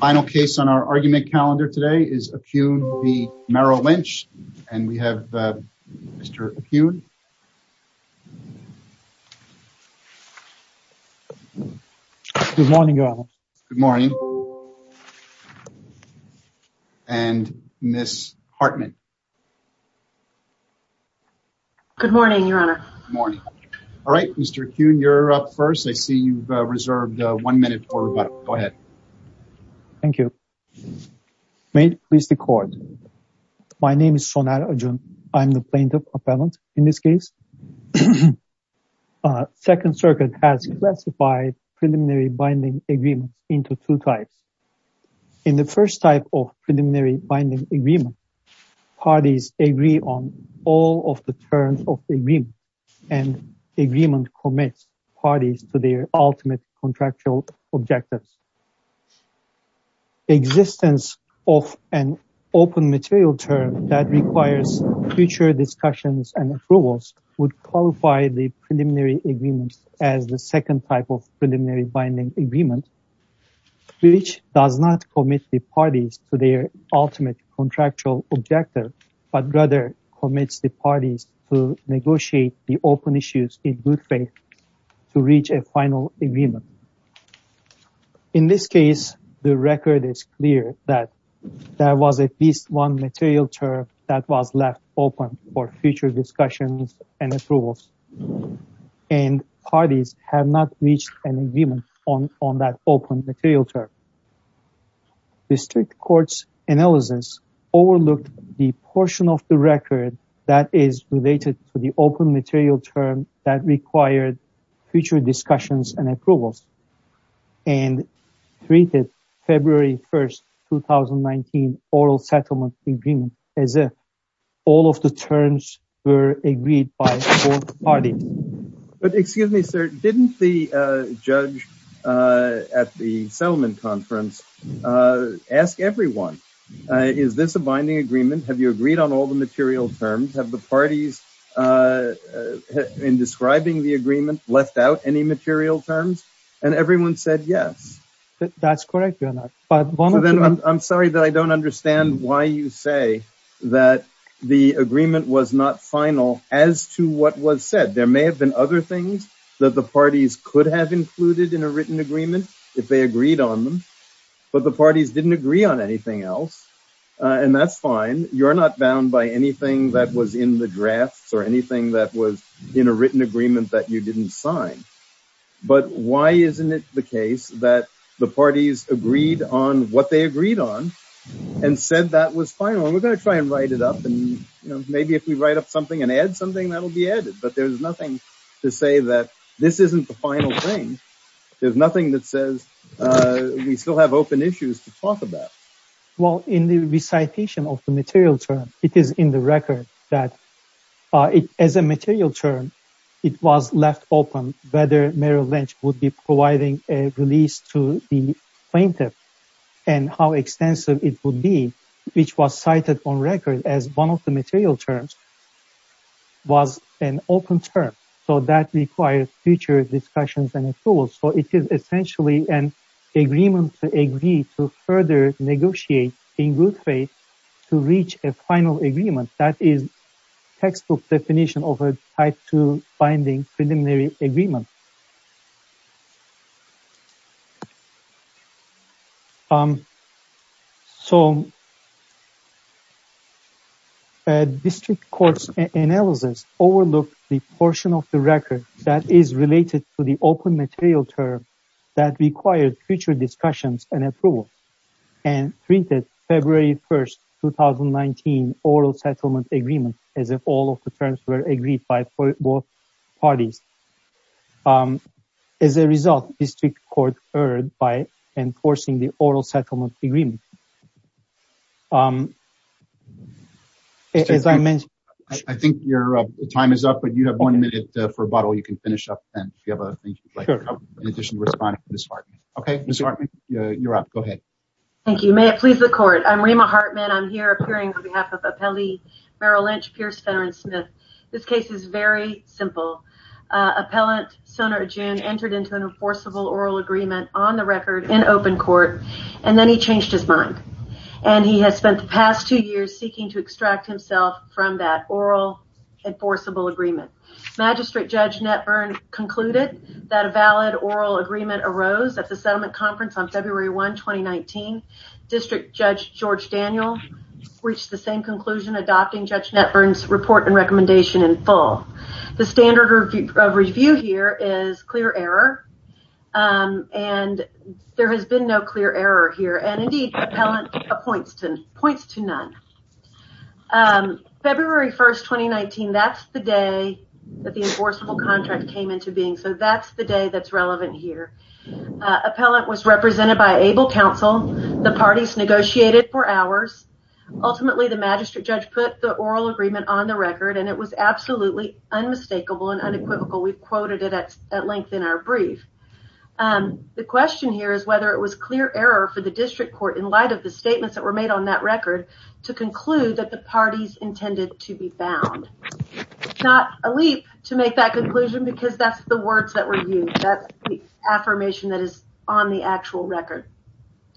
Final case on our argument calendar today is Acun v. Merrill Lynch and we have Mr. Acun. Good morning your honor. Good morning. And Ms. Hartman. Good morning your honor. Good morning. All right Mr. Acun you're up first. I see you've Thank you. May it please the court. My name is Soner Acun. I'm the plaintiff appellant in this case. Second circuit has classified preliminary binding agreements into two types. In the first type of preliminary binding agreement, parties agree on all of the terms of the agreement and agreement commits parties to their ultimate contractual objectives. Existence of an open material term that requires future discussions and approvals would qualify the preliminary agreements as the second type of preliminary binding agreement which does not commit the parties to their ultimate contractual objective but rather commits the parties to negotiate the open issues in good faith to reach a final agreement. In this case the record is clear that there was at least one material term that was left open for future discussions and approvals and parties have not reached an agreement on on that open material term. District court's analysis overlooked the portion of the record that is related to the open material term that required future discussions and approvals and treated February 1st 2019 oral settlement agreement as if all of the terms were agreed by both parties. But excuse me sir, didn't the judge at the settlement conference ask everyone is this a binding agreement? Have you agreed on all the material terms? Have the parties in describing the agreement left out any material terms? And everyone said yes. That's correct. I'm sorry that I don't understand why you say that the agreement was not final as to what was said. There may have been other things that the parties could have included in a written agreement if they agreed on them but the parties didn't agree on anything else and that's fine. You're not bound by anything that was in the drafts or anything that was in a written agreement that you didn't sign but why isn't it the case that the parties agreed on what they agreed on and said that was final and we're going to try and write it up and maybe if we write up something and add something that'll be added but there's nothing to say that this isn't the final thing. There's nothing that says we still have open issues to talk about. Well in the recitation of the material term it is in the record that as a material term it was left open whether Merrill Lynch would be providing a release to the plaintiff and how material terms was an open term so that requires future discussions and approval so it is essentially an agreement to agree to further negotiate in good faith to reach a final agreement that is textbook definition of a type two binding preliminary agreement. So a district court's analysis overlooked the portion of the record that is related to the open material term that required future discussions and approval and treated February 1st, 2019, oral settlement agreement as if all of the terms were agreed by both parties. As a result, district court erred by enforcing the oral settlement agreement. I think your time is up but you have one minute for rebuttal. You can finish up then if you have a thing you'd like to add in addition to responding to Ms. Hartman. Okay, Ms. Hartman, you're up. Go ahead. Thank you. May it please the court. I'm Rima Hartman. I'm here appearing on behalf of appellant Sonar Ajun entered into an enforceable oral agreement on the record in open court and then he changed his mind and he has spent the past two years seeking to extract himself from that oral enforceable agreement. Magistrate Judge Netburn concluded that a valid oral agreement arose at the settlement conference on February 1, 2019. District Judge George Daniel reached the same conclusion adopting Judge Netburn's report and recommendation in full. The standard of review here is clear error and there has been no clear error here and indeed points to none. February 1st, 2019, that's the day that the enforceable contract came into being. So, that's the day that's relevant here. Appellant was represented by able counsel. The parties negotiated for hours. Ultimately, the magistrate judge put the oral agreement on the record and it was absolutely unmistakable and unequivocal. We've quoted it at length in our brief. The question here is whether it was clear error for the district court in light of the statements that were made on that record to conclude that the parties intended to be bound. It's not a leap to make that conclusion because that's the words that were used. That's the affirmation that is on the actual record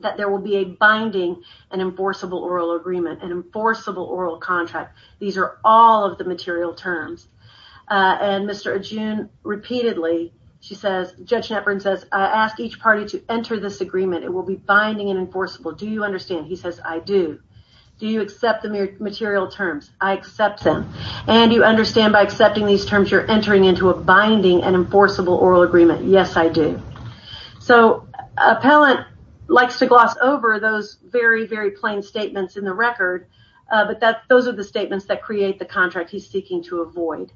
that there will be a binding and enforceable oral agreement, an enforceable oral contract. These are all of the material terms. And Mr. Ajun, repeatedly, she says, Judge Netburn says, I ask each party to enter this agreement. It will be binding and enforceable. Do you understand? He says, I do. Do you accept the material terms? I accept them. And you understand by accepting these terms, you're entering into a binding and enforceable oral agreement. Yes, I do. So, appellant likes to gloss over those very, very plain statements in the record, but those are the statements that create the contract he's seeking to avoid.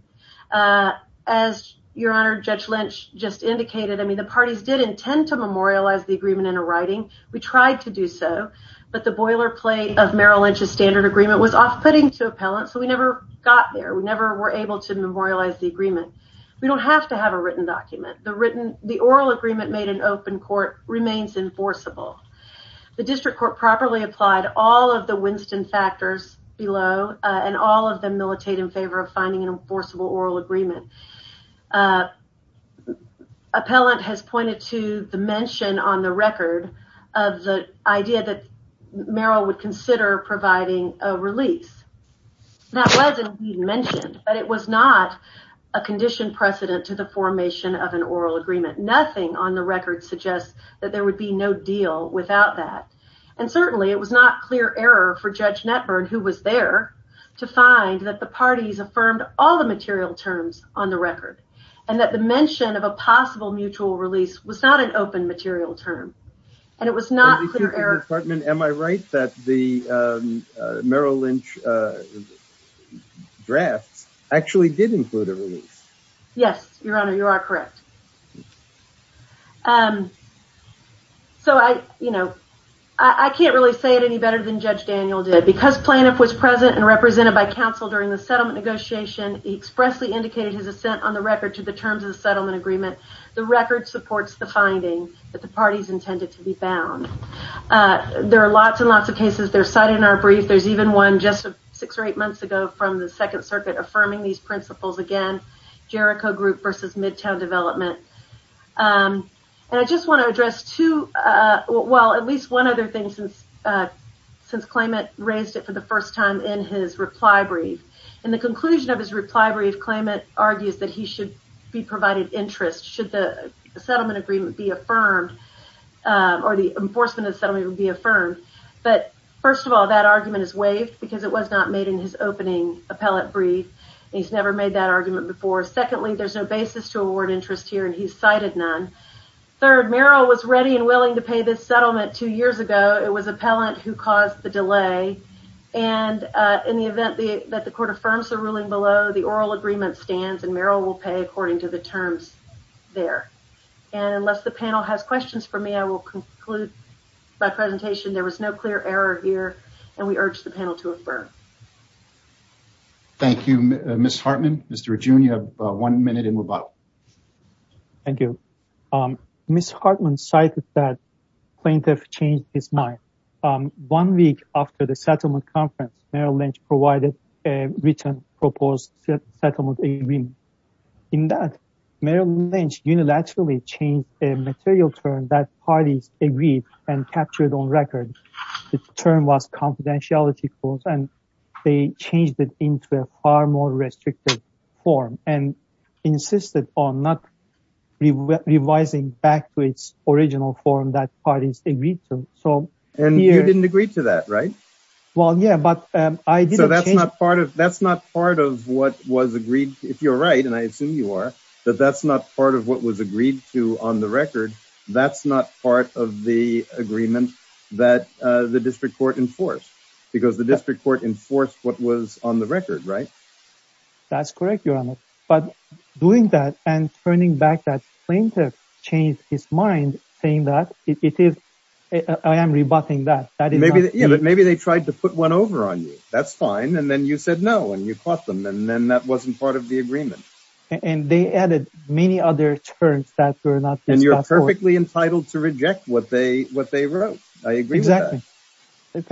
As your honor, Judge Lynch just indicated, I mean, the parties did intend to memorialize the agreement in a writing. We tried to do so, but the boilerplate of Merrill Lynch's standard agreement was off-putting to appellants, so we never got there. We never were able to memorialize the agreement. We don't have to have a written document. The oral agreement made in open court remains enforceable. The district court properly applied all of the Winston factors below, and all of them militate in favor of finding an enforceable oral agreement. Appellant has pointed to the mention on the record of the idea that Merrill would consider providing a release. That was indeed mentioned, but it was not a condition precedent to the that there would be no deal without that, and certainly it was not clear error for Judge Netburn, who was there, to find that the parties affirmed all the material terms on the record, and that the mention of a possible mutual release was not an open material term, and it was not clear error. Am I right that the Merrill Lynch draft actually did include a release? Yes, your honor, you are correct. So I, you know, I can't really say it any better than Judge Daniel did. Because plaintiff was present and represented by counsel during the settlement negotiation, he expressly indicated his assent on the record to the terms of the settlement agreement. The record supports the finding that the parties intended to be found. There are lots and lots of cases that are cited in our brief. There's even one just six or eight months ago from the second circuit affirming these And I just want to address two, well, at least one other thing since since Klamath raised it for the first time in his reply brief. In the conclusion of his reply brief, Klamath argues that he should be provided interest should the settlement agreement be affirmed or the enforcement of the settlement be affirmed. But first of all, that argument is waived because it was not made in his opening appellate brief. He's never made that argument before. Secondly, there's no basis to award interest here and he's cited none. Third, Merrill was ready and willing to pay this settlement two years ago. It was appellant who caused the delay. And in the event that the court affirms the ruling below the oral agreement stands and Merrill will pay according to the terms there. And unless the panel has questions for me, I will conclude by presentation. There was no clear error here and we urge the panel to affirm. Thank you, Ms. Hartman. Mr. Rajun, you have one minute in rebuttal. Thank you. Ms. Hartman cited that plaintiff changed his mind. One week after the settlement conference, Merrill Lynch provided a written proposed settlement agreement. In that, Merrill Lynch unilaterally changed a material term that parties agreed and captured on record. The term was confidentiality clause and they changed it into a far more restricted form and insisted on not revising back to its original form that parties agreed to. And you didn't agree to that, right? Well, yeah, but I did. So that's not part of what was agreed, if you're right, and I assume you are, that that's not part of what was agreed to on the record. That's not part of the agreement that the district court enforced because the district court enforced what was on the record, right? That's correct, Your Honor. But doing that and turning back that plaintiff changed his mind saying that it is, I am rebutting that. Maybe they tried to put one over on you. That's fine. And then you said no and you caught them. And then that wasn't part of the agreement. And they added many other terms that were not. And you're perfectly entitled to reject what they wrote. I agree with that. Exactly.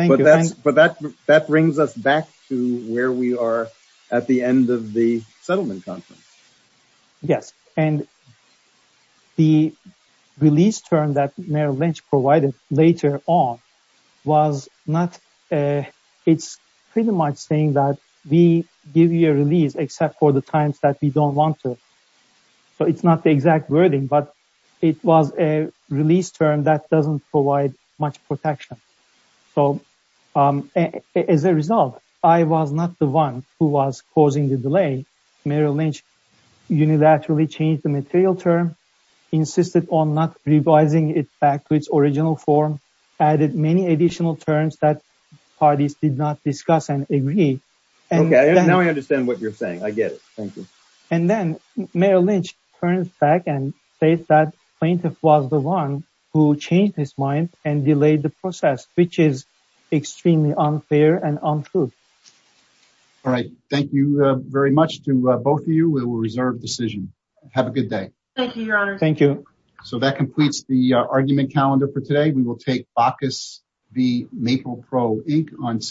Thank you. But that brings us back to where we are at the end of the settlement conference. Yes. And the release term that Mayor Lynch provided later on was not, it's pretty much saying that we give you a release except for the times that we don't want to. So it's not the exact wording, but it was a release term that doesn't provide much protection. So as a result, I was not the one who was causing the delay. Mayor Lynch unilaterally changed the material term, insisted on not revising it back to its original form, added many additional terms that parties did not discuss and agree. Okay. Now I understand what you're saying. I get it. Thank you. And then Mayor Lynch turns back and says that plaintiff was the one who changed his mind and delayed the process, which is extremely unfair and untrue. All right. Thank you very much to both of you. We will reserve decision. Have a good day. Thank you, Your Honor. Thank you. So that completes the argument calendar for today. We will take Bacchus v. Maple Pro Inc. on to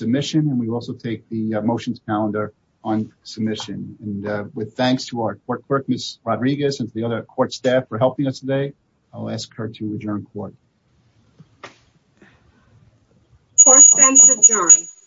our court clerk, Ms. Rodriguez, and to the other court staff for helping us today. I'll ask her to adjourn court. Court is adjourned.